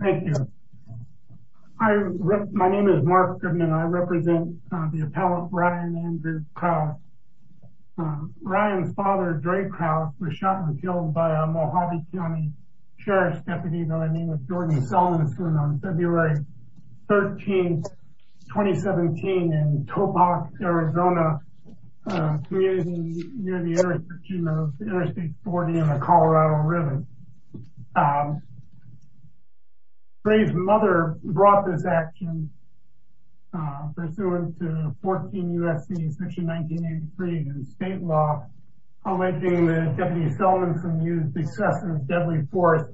Thank you. My name is Mark Goodman. I represent the appellate Ryan Andrew Krause. Ryan's father, Dre Krause, was shot and killed by a Mohave County Sheriff's Deputy, by the name of Jordan Selman, on February 13, 2017, in Topox, Arizona, near the intersection of Interstate 40 and the Colorado River. Dre's mother brought this action, pursuant to 14 U.S.C. section 1983 state law, alleging that Deputy Selman had used excessive deadly force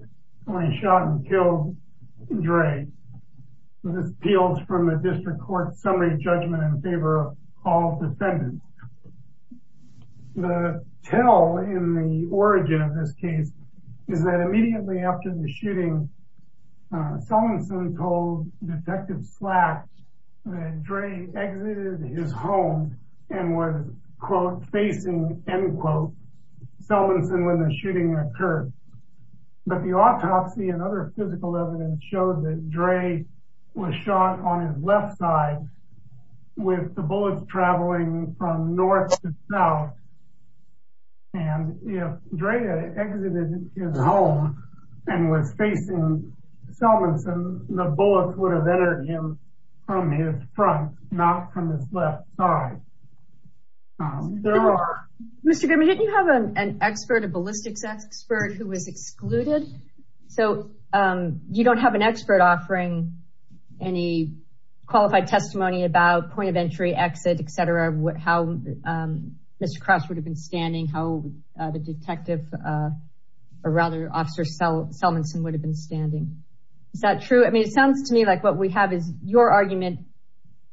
when he shot and killed Dre. This appeals from the District Court's summary judgment in favor of all defendants. The tale in the origin of this case is that immediately after the shooting, Selman soon told Detective Slack that Dre exited his home and was, quote, facing, end quote, Selmanson when the shooting occurred. But the autopsy and other physical evidence showed that Dre was shot on his left side with the bullets traveling from north to south. And if Dre had exited his home and was facing Selmanson, the bullets would have entered him from his front, not from his left side. Mr. Goodman, didn't you have an expert, a ballistics expert, who was excluded? So you don't have an expert offering any qualified testimony about point of entry, exit, etc., how Mr. Krause would have been standing, how the detective, or rather Officer Selmanson, would have been standing. Is that true? I mean, it sounds to me like what we have is your argument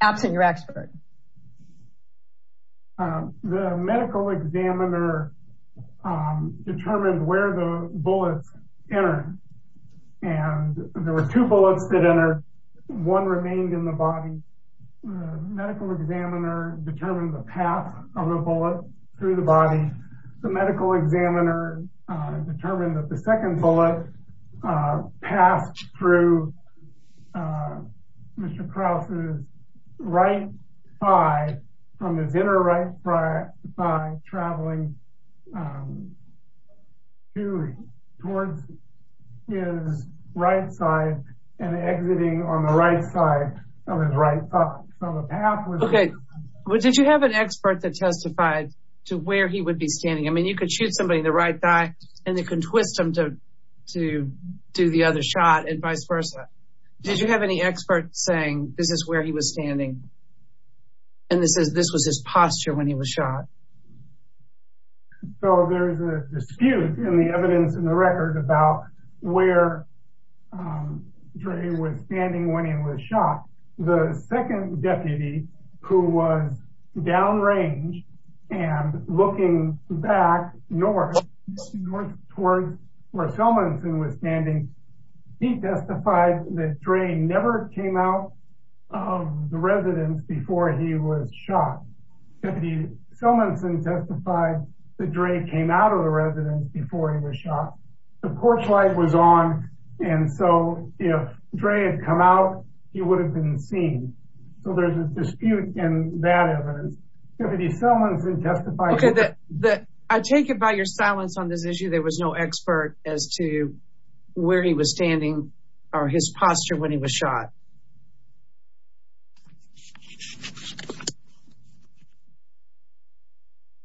absent your expert. The medical examiner determined where the bullets entered. And there were two bullets that entered. One remained in the body. The medical examiner determined the path of the bullet through the body. The medical examiner determined that the second bullet passed through Mr. Krause's right thigh, from his inner right thigh, traveling towards his right side, and exiting on the right side of his right thigh. Okay. Well, did you have an expert that testified to where he would be standing? I mean, you could shoot somebody in the right thigh, and they could twist him to do the other shot, and vice versa. Did you have any expert saying, this is where he was standing, and this was his posture when he was shot? So there's a dispute in the evidence in the record about where Dre was standing when he was shot. The second deputy, who was downrange and looking back north, north towards where Selmonson was standing, he testified that Dre never came out of the residence before he was shot. Deputy Selmonson testified that Dre came out of the residence before he was shot. The porch light was on, and so if Dre had come out, he would have been seen. So there's a dispute in that evidence. Deputy Selmonson testified that— Okay. I take it by your silence on this issue there was no expert as to where he was standing or his posture when he was shot.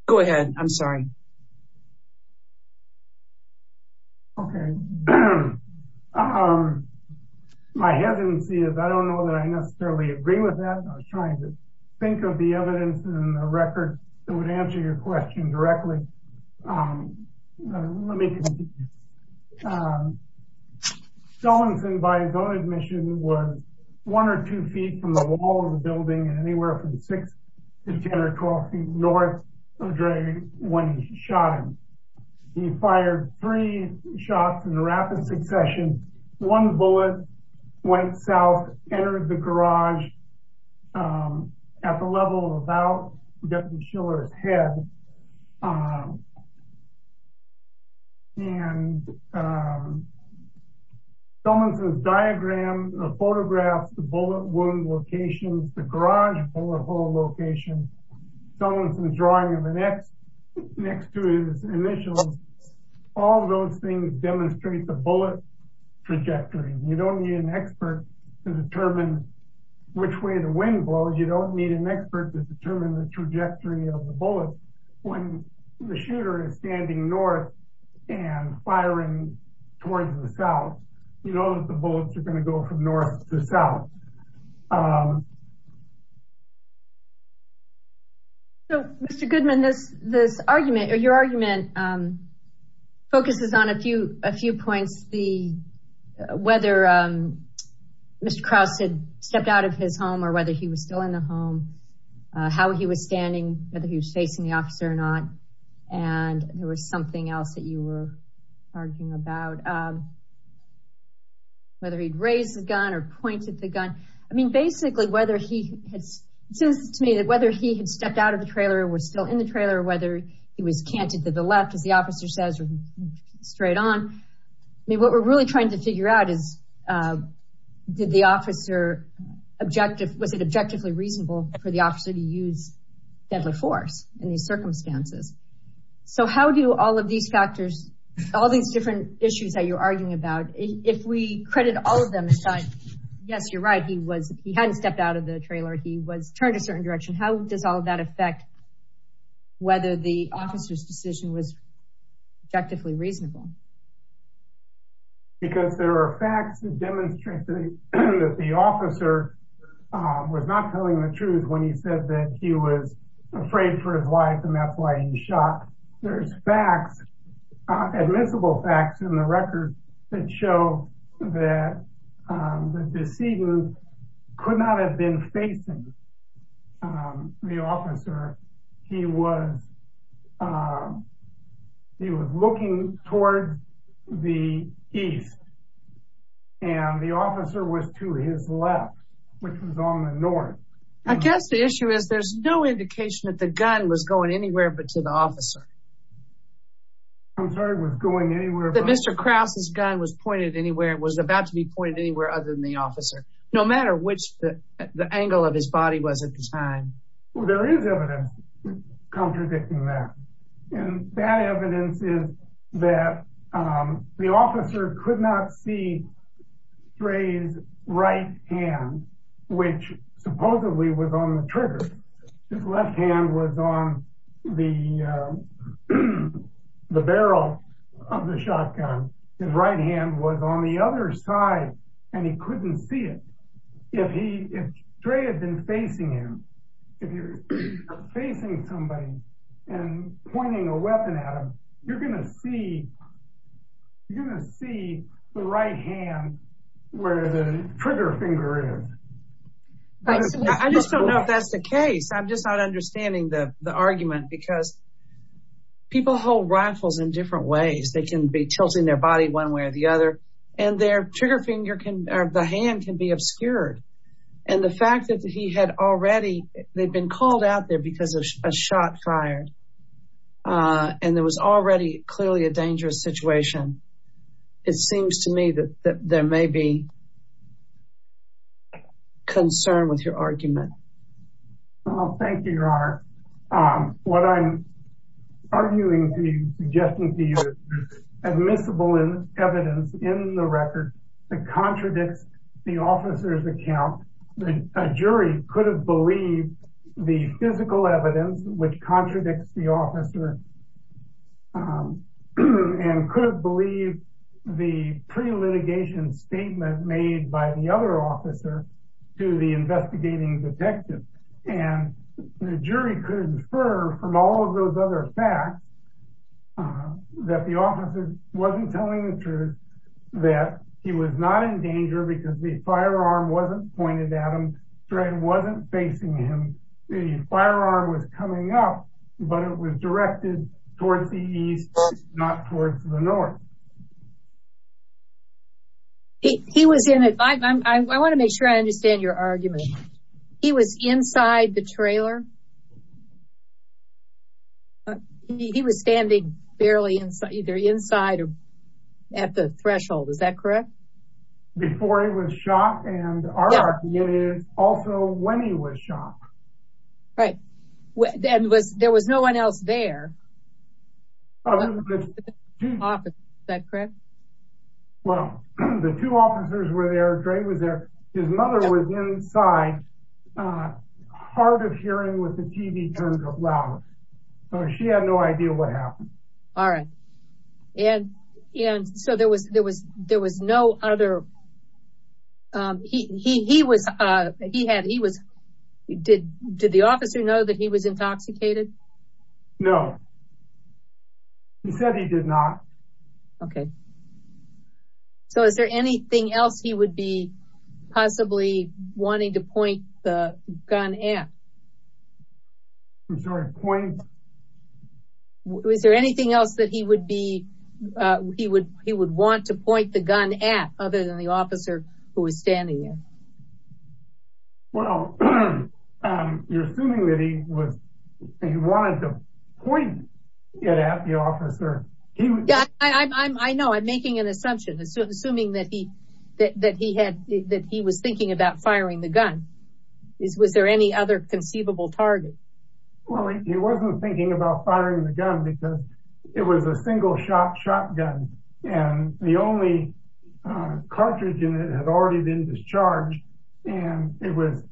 Go ahead. I'm sorry. Okay. My hesitancy is I don't know that I necessarily agree with that. I was trying to think of the evidence in the record that would answer your question directly. Let me continue. Selmonson, by his own admission, was one or two feet from the wall of the building, and anywhere from six to 10 or 12 feet north of Dre when he shot him. He fired three shots in rapid succession. One bullet went south, entered the garage at the level of about Deputy Schiller's head. And Selmonson's diagram photographs the bullet wound locations, the garage bullet hole locations. Selmonson's drawing of an X next to his initials, all those things demonstrate the bullet trajectory. You don't need an expert to determine which way the wind blows. You don't need an expert to determine the trajectory of the bullet. When the shooter is standing north and firing towards the south, you know that the bullets are going to go from north to south. So, Mr. Goodman, this argument or your argument focuses on a few points, whether Mr. Krause had stepped out of his home or whether he was still in the home, how he was standing, whether he was facing the officer or not, and there was something else that you were arguing about, whether he'd raised the gun or pointed the gun. I mean, basically, it seems to me that whether he had stepped out of the trailer or was still in the trailer, whether he was canted to the left, as the officer says, or straight on. I mean, what we're really trying to figure out is, was it objectively reasonable for the officer to use deadly force in these circumstances? So how do all of these factors, all these different issues that you're arguing about, if we credit all of them aside, yes, you're right, he hadn't stepped out of the trailer. He was turned a certain direction. How does all of that affect whether the officer's decision was objectively reasonable? Because there are facts that demonstrate that the officer was not telling the truth when he said that he was afraid for his life, and that's why he shot. There's facts, admissible facts in the record that show that the decedent could not have been facing the officer. He was looking towards the east, and the officer was to his left, which was on the north. I guess the issue is there's no indication that the gun was going anywhere but to the officer. I'm sorry, it was going anywhere? That Mr. Krause's gun was pointed anywhere, was about to be pointed anywhere other than the officer, no matter which the angle of his body was at the time. There is evidence contradicting that, and that evidence is that the officer could not see Trey's right hand, which supposedly was on the trigger. His left hand was on the barrel of the shotgun. His right hand was on the other side, and he couldn't see it. If Trey had been facing him, if you're facing somebody and pointing a weapon at them, you're going to see the right hand where the trigger finger is. I just don't know if that's the case. I'm just not understanding the argument, because people hold rifles in different ways. They can be tilting their body one way or the other, and the hand can be obscured. The fact that he had already been called out there because of a shot fired, and there was already clearly a dangerous situation, it seems to me that there may be concern with your argument. What I'm arguing to you, suggesting to you, is admissible evidence in the record that contradicts the officer's account. A jury could have believed the physical evidence which contradicts the officer, and could have believed the pre-litigation statement made by the other officer to the investigating detective. The jury could infer from all of those other facts that the officer wasn't telling the truth, that he was not in danger because the firearm wasn't pointed at him. Trey wasn't facing him. The firearm was coming up, but it was directed towards the east, not towards the north. I want to make sure I understand your argument. He was inside the trailer? He was standing barely inside, either inside or at the threshold, is that correct? Before he was shot, and our argument is also when he was shot. Right. And there was no one else there? Is that correct? Well, the two officers were there. Trey was there. His mother was inside, hard of hearing with the TV turned up louder. So she had no idea what happened. All right. Did the officer know that he was intoxicated? No. He said he did not. Okay. So is there anything else he would be possibly wanting to point the gun at? I'm sorry, point? Is there anything else that he would want to point the gun at, other than the officer who was standing there? Well, you're assuming that he wanted to point it at the officer. I know, I'm making an assumption. Assuming that he was thinking about firing the gun. Was there any other conceivable target? Well, he wasn't thinking about firing the gun because it was a single shot shotgun. And the only cartridge in it had already been discharged. And it was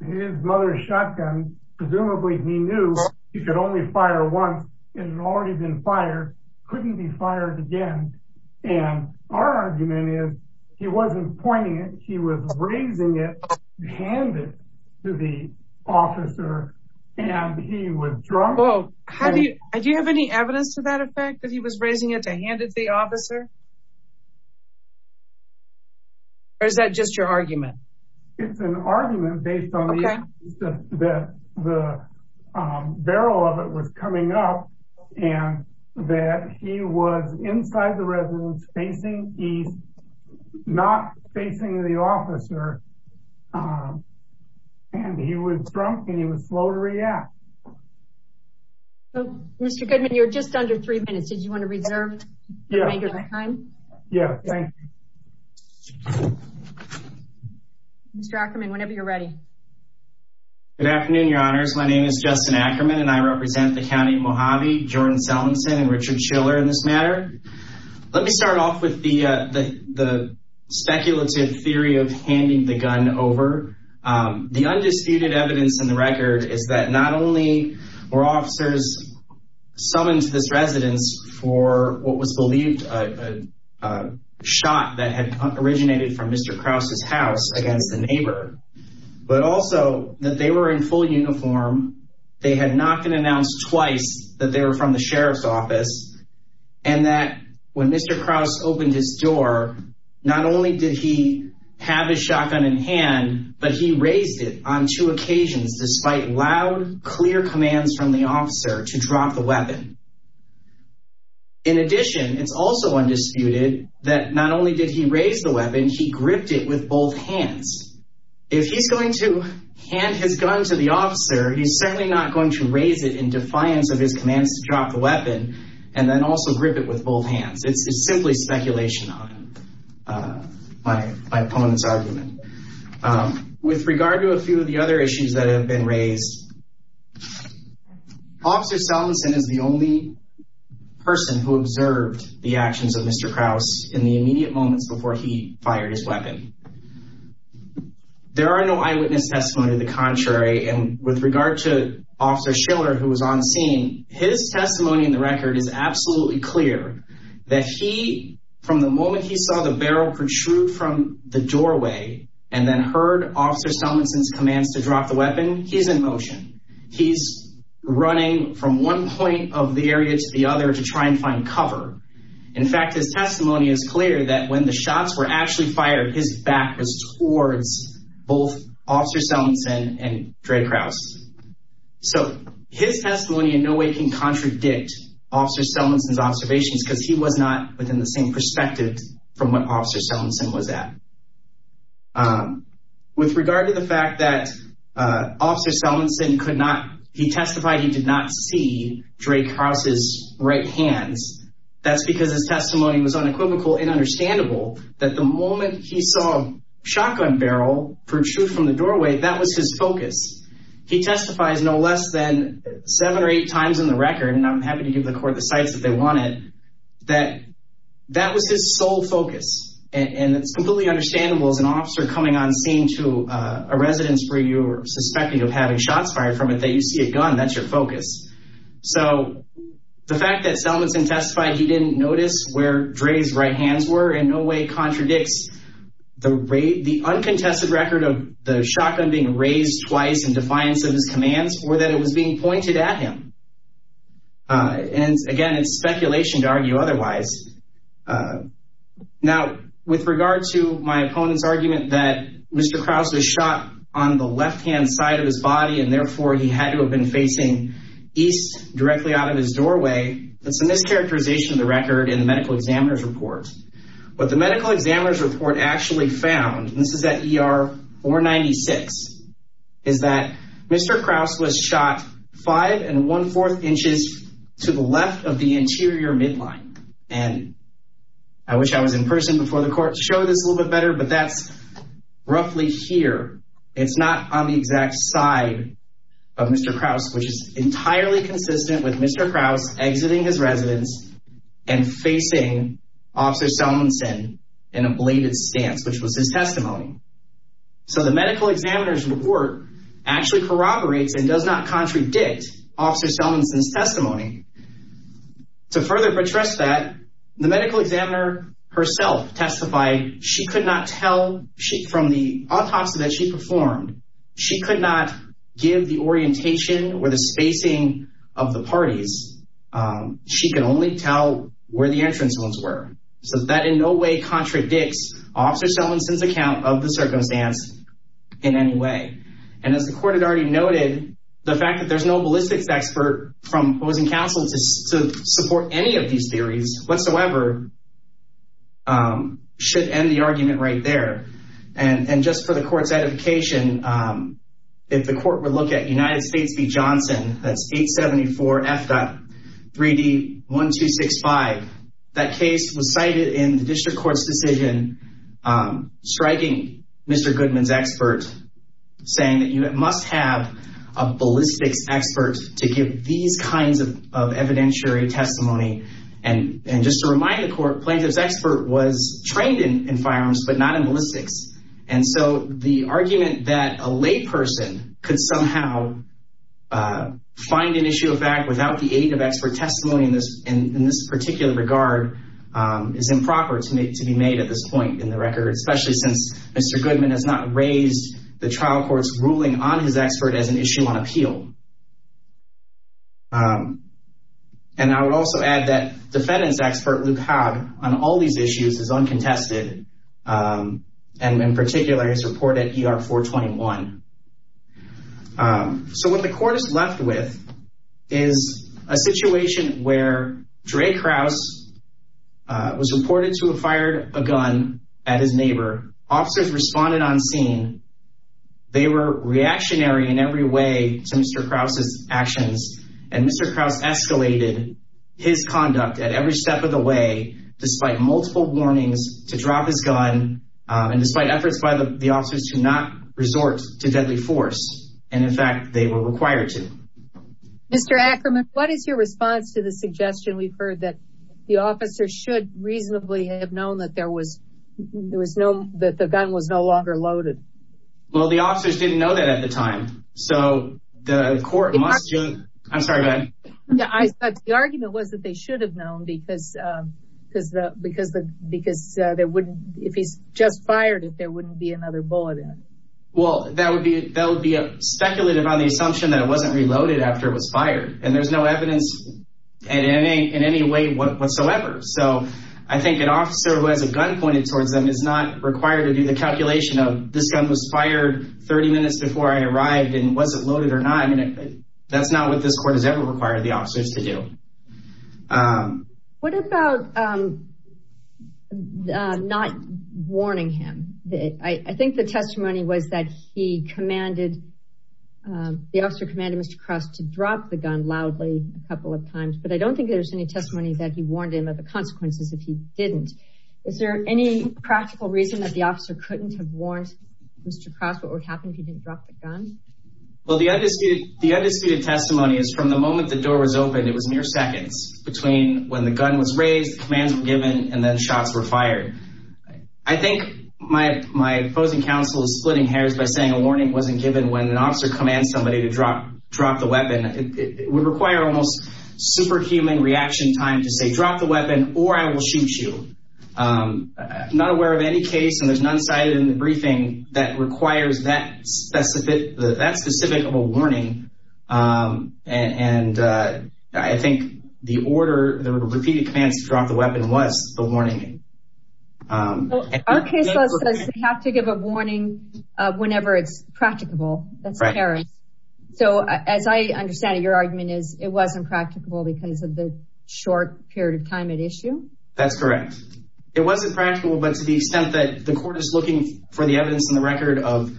his mother's shotgun. And presumably he knew he could only fire once. It had already been fired. Couldn't be fired again. And our argument is he wasn't pointing it. He was raising it to hand it to the officer. And he was drunk. Do you have any evidence to that effect? That he was raising it to hand it to the officer? Or is that just your argument? It's an argument based on the fact that the barrel of it was coming up. And that he was inside the residence facing east. Not facing the officer. And he was drunk and he was slow to react. Mr. Goodman, you're just under three minutes. Did you want to reserve your time? Yes, thank you. Mr. Ackerman, whenever you're ready. Good afternoon, your honors. My name is Justin Ackerman and I represent the County of Mojave, Jordan Sellinson, and Richard Schiller in this matter. Let me start off with the speculative theory of handing the gun over. The undisputed evidence in the record is that not only were officers summoned to this residence for what was believed a shot that had originated from Mr. Krause's house against a neighbor. But also that they were in full uniform. They had not been announced twice that they were from the sheriff's office. And that when Mr. Krause opened his door, not only did he have his shotgun in hand, but he raised it on two occasions despite loud, clear commands from the officer to drop the weapon. In addition, it's also undisputed that not only did he raise the weapon, he gripped it with both hands. If he's going to hand his gun to the officer, he's certainly not going to raise it in defiance of his commands to drop the weapon and then also grip it with both hands. It's simply speculation on my opponent's argument. With regard to a few of the other issues that have been raised, Officer Salmonson is the only person who observed the actions of Mr. Krause in the immediate moments before he fired his weapon. There are no eyewitness testimonies of the contrary. And with regard to Officer Schiller, who was on scene, his testimony in the record is absolutely clear that he, from the moment he saw the barrel protrude from the doorway when he's in motion, he's running from one point of the area to the other to try and find cover. In fact, his testimony is clear that when the shots were actually fired, his back was towards both Officer Salmonson and Dre Krause. So his testimony in no way can contradict Officer Salmonson's observations because he was not within the same perspective from what Officer Salmonson was at. With regard to the fact that Officer Salmonson could not, he testified he did not see Dre Krause's right hands, that's because his testimony was unequivocal and understandable that the moment he saw a shotgun barrel protrude from the doorway, that was his focus. He testifies no less than seven or eight times in the record, and I'm happy to give the court the sites that they wanted, that that was his sole focus. And it's completely understandable as an officer coming on scene to a residence where you're suspected of having shots fired from it that you see a gun, that's your focus. So the fact that Salmonson testified he didn't notice where Dre's right hands were in no way contradicts the uncontested record of the shotgun being raised twice in defiance of his commands or that it was being pointed at him. And again, it's speculation to argue otherwise. Now, with regard to my opponent's argument that Mr. Krause was shot on the left-hand side of his body and therefore he had to have been facing east directly out of his doorway, that's a mischaracterization of the record in the medical examiner's report. What the medical examiner's report actually found, and this is at ER 496, is that Mr. Krause was shot five and one-fourth inches to the left of the interior midline. And I wish I was in person before the court to show this a little bit better, but that's roughly here. It's not on the exact side of Mr. Krause, which is entirely consistent with Mr. Krause exiting his residence and facing Officer Salmonson in a bladed stance, which was his testimony. So the medical examiner's report actually corroborates and does not contradict Officer Salmonson's testimony. To further protest that, the medical examiner herself testified she could not tell from the autopsy that she performed, she could not give the orientation or the spacing of the parties. She could only tell where the entrance wounds were. So that in no way contradicts Officer Salmonson's account of the circumstance in any way. And as the court had already noted, the fact that there's no ballistics expert from opposing counsel to support any of these theories whatsoever should end the argument right there. And just for the court's edification, if the court were to look at United States v. Johnson, that's 874F.3D1265, that case was cited in the district court's decision striking Mr. Goodman's expert, saying that you must have a ballistics expert to give these kinds of evidentiary testimony. And just to remind the court, plaintiff's expert was trained in firearms but not in ballistics. And so the argument that a layperson could somehow find an issue of fact without the aid of expert testimony in this particular regard is improper to be made at this point in the record, especially since Mr. Goodman has not raised the trial court's ruling on his expert as an issue on appeal. And I would also add that defendant's expert, Luke Haag, on all these issues is uncontested, and in particular his report at ER 421. So what the court is left with is a situation where Dre Kraus was reported to have fired a gun at his neighbor. Officers responded on scene. They were reactionary in every way to Mr. Kraus's actions, and Mr. Kraus escalated his conduct at every step of the way despite multiple warnings to drop his gun and despite efforts by the officers to not resort to deadly force. And in fact, they were required to. Mr. Ackerman, what is your response to the suggestion we've heard that the officers should reasonably have known that the gun was no longer loaded? Well, the officers didn't know that at the time, so the court must have. I'm sorry, go ahead. The argument was that they should have known because if he's just fired it, there wouldn't be another bullet in it. Well, that would be speculative on the assumption that it wasn't reloaded after it was fired, and there's no evidence in any way whatsoever. So I think an officer who has a gun pointed towards them is not required to do the calculation of, this gun was fired 30 minutes before I arrived, and was it loaded or not? That's not what this court has ever required the officers to do. What about not warning him? I think the testimony was that he commanded, the officer commanded Mr. Cross to drop the gun loudly a couple of times, but I don't think there's any testimony that he warned him of the consequences if he didn't. Is there any practical reason that the officer couldn't have warned Mr. Cross what would happen if he didn't drop the gun? Well, the undisputed testimony is from the moment the door was opened, it was mere seconds between when the gun was raised, commands were given, and then shots were fired. I think my opposing counsel is splitting hairs by saying a warning wasn't given when an officer commands somebody to drop the weapon. It would require almost superhuman reaction time to say drop the weapon or I will shoot you. I'm not aware of any case, and there's none cited in the briefing, that requires that specific of a warning, and I think the order, the repeated commands to drop the weapon was the warning. Our case law says you have to give a warning whenever it's practicable. So as I understand it, your argument is it wasn't practicable because of the short period of time at issue? That's correct. It wasn't practical, but to the extent that the court is looking for the evidence in the record of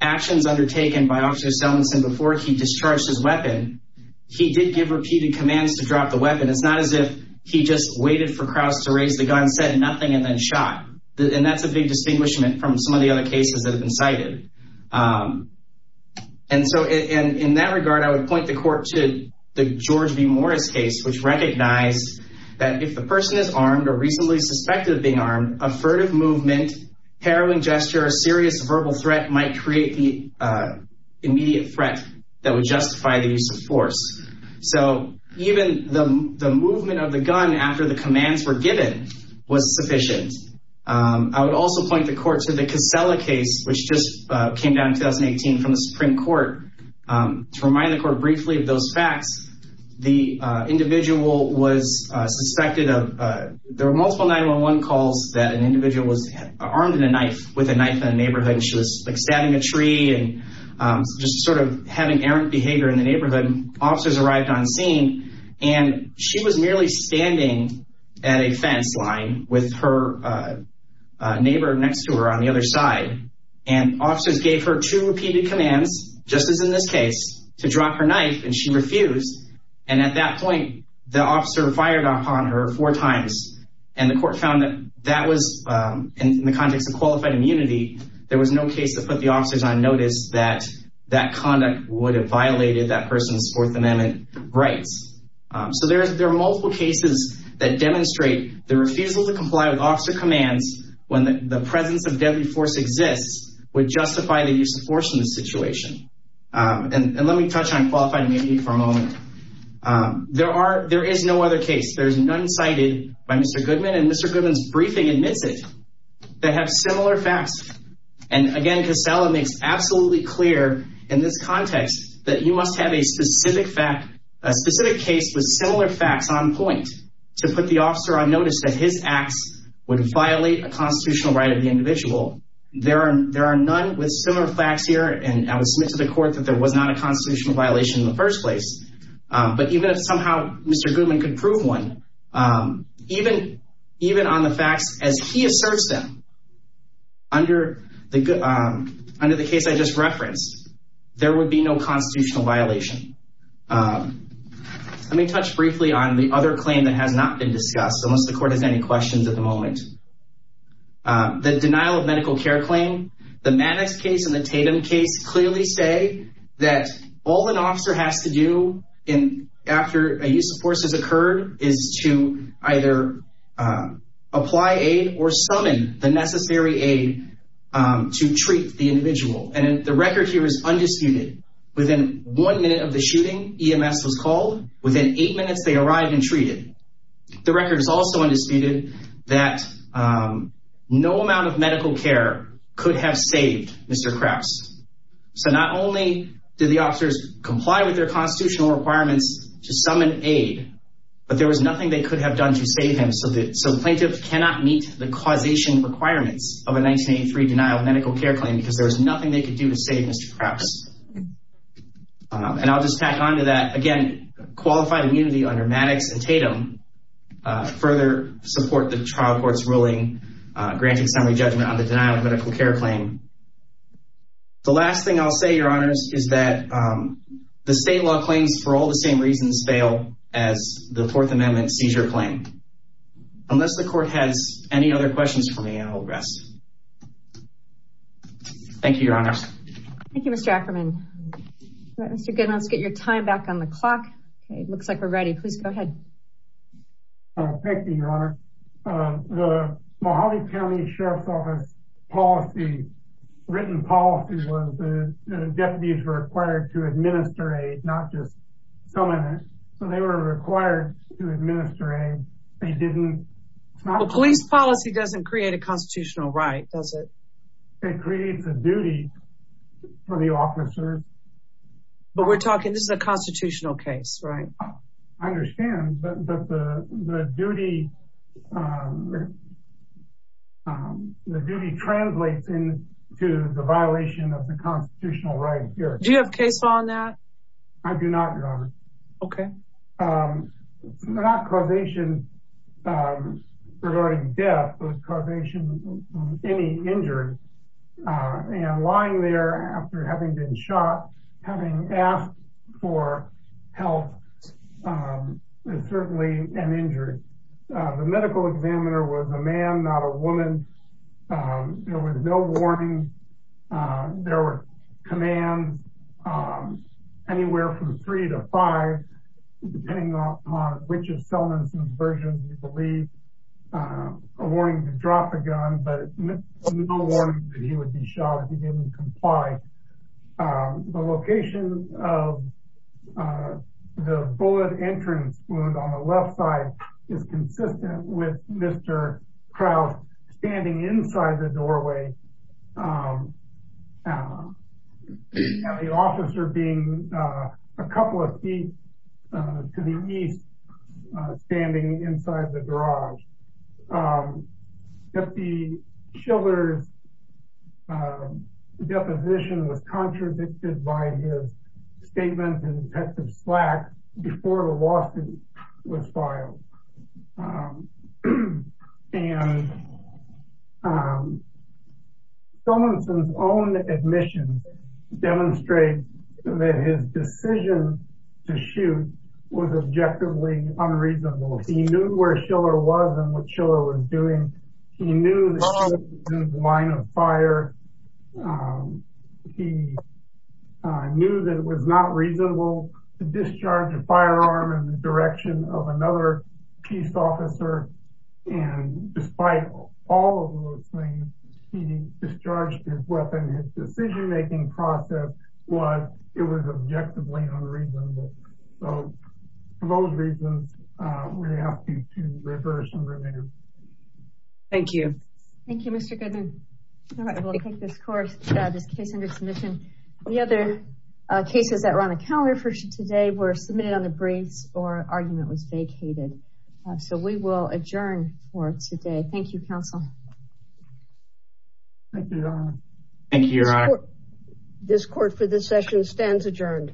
actions undertaken by Officer Sellinson before he discharged his weapon, he did give repeated commands to drop the weapon. It's not as if he just waited for Cross to raise the gun, said nothing, and then shot. And that's a big distinguishment from some of the other cases that have been cited. And so in that regard, I would point the court to the George B. Morris case, which recognized that if the person is armed or reasonably suspected of being armed, a furtive movement, harrowing gesture, a serious verbal threat might create the immediate threat that would justify the use of force. So even the movement of the gun after the commands were given was sufficient. I would also point the court to the Casella case, which just came down in 2018 from the Supreme Court. To remind the court briefly of those facts, the individual was suspected of— there were multiple 911 calls that an individual was armed with a knife in a neighborhood. She was stabbing a tree and just sort of having errant behavior in the neighborhood. Officers arrived on scene, and she was merely standing at a fence line with her neighbor next to her on the other side. And officers gave her two repeated commands, just as in this case, to drop her knife, and she refused. And at that point, the officer fired upon her four times. And the court found that that was—in the context of qualified immunity, there was no case that put the officers on notice that that conduct would have violated that person's Fourth Amendment rights. So there are multiple cases that demonstrate the refusal to comply with officer commands when the presence of deadly force exists would justify the use of force in this situation. And let me touch on qualified immunity for a moment. There is no other case. There's none cited by Mr. Goodman, and Mr. Goodman's briefing admits it. They have similar facts. And again, Casella makes absolutely clear in this context that you must have a specific fact— to put the officer on notice that his acts would violate a constitutional right of the individual. There are none with similar facts here, and I would submit to the court that there was not a constitutional violation in the first place. But even if somehow Mr. Goodman could prove one, even on the facts as he asserts them, under the case I just referenced, there would be no constitutional violation. Let me touch briefly on the other claim that has not been discussed, unless the court has any questions at the moment. The denial of medical care claim. The Maddox case and the Tatum case clearly say that all an officer has to do after a use of force has occurred is to either apply aid or summon the necessary aid to treat the individual. And the record here is undisputed. Within one minute of the shooting, EMS was called. Within eight minutes, they arrived and treated. The record is also undisputed that no amount of medical care could have saved Mr. Krause. So not only did the officers comply with their constitutional requirements to summon aid, but there was nothing they could have done to save him. So the plaintiff cannot meet the causation requirements of a 1983 denial of medical care claim because there was nothing they could do to save Mr. Krause. And I'll just tack on to that, again, qualified immunity under Maddox and Tatum further support the trial court's ruling granting summary judgment on the denial of medical care claim. The last thing I'll say, Your Honors, is that the state law claims, for all the same reasons, fail as the Fourth Amendment seizure claim. Unless the court has any other questions for me, I'll rest. Thank you, Your Honors. Thank you, Mr. Ackerman. Mr. Goodman, let's get your time back on the clock. It looks like we're ready. Please go ahead. Thank you, Your Honor. The Mojave County Sheriff's Office policy, written policy, was the deputies were required to administer aid, not just summon it. So they were required to administer aid. They didn't. Well, police policy doesn't create a constitutional right, does it? It creates a duty for the officer. But we're talking, this is a constitutional case, right? I understand, but the duty translates into the violation of the constitutional right here. I do not, Your Honor. Okay. Not causation regarding death, but causation of any injury. And lying there after having been shot, having asked for help, is certainly an injury. The medical examiner was a man, not a woman. There was no warning. There were commands anywhere from three to five, depending upon which assailants and versions you believe, a warning to drop a gun, but no warning that he would be shot if he didn't comply. The location of the bullet entrance wound on the left side is consistent with Mr. Krause standing inside the doorway, and the officer being a couple of feet to the east, standing inside the garage. Deputy Schiller's deposition was contradicted by his statements in Detective Slack before the lawsuit was filed. And Solomonson's own admission demonstrates that his decision to shoot was objectively unreasonable. He knew where Schiller was and what Schiller was doing. He knew that Schiller was in the line of fire. He knew that it was not reasonable to discharge a firearm in the direction of another peace officer. And despite all of those things, he discharged his weapon. His decision-making process was, it was objectively unreasonable. So for those reasons, we ask you to reverse and remain. Thank you. Thank you, Mr. Goodman. All right, we'll take this case under submission. The other cases that were on the calendar for today were submitted on the briefs or argument was vacated. So we will adjourn for today. Thank you, counsel. Thank you, Your Honor. Thank you, Your Honor. This court for this session stands adjourned.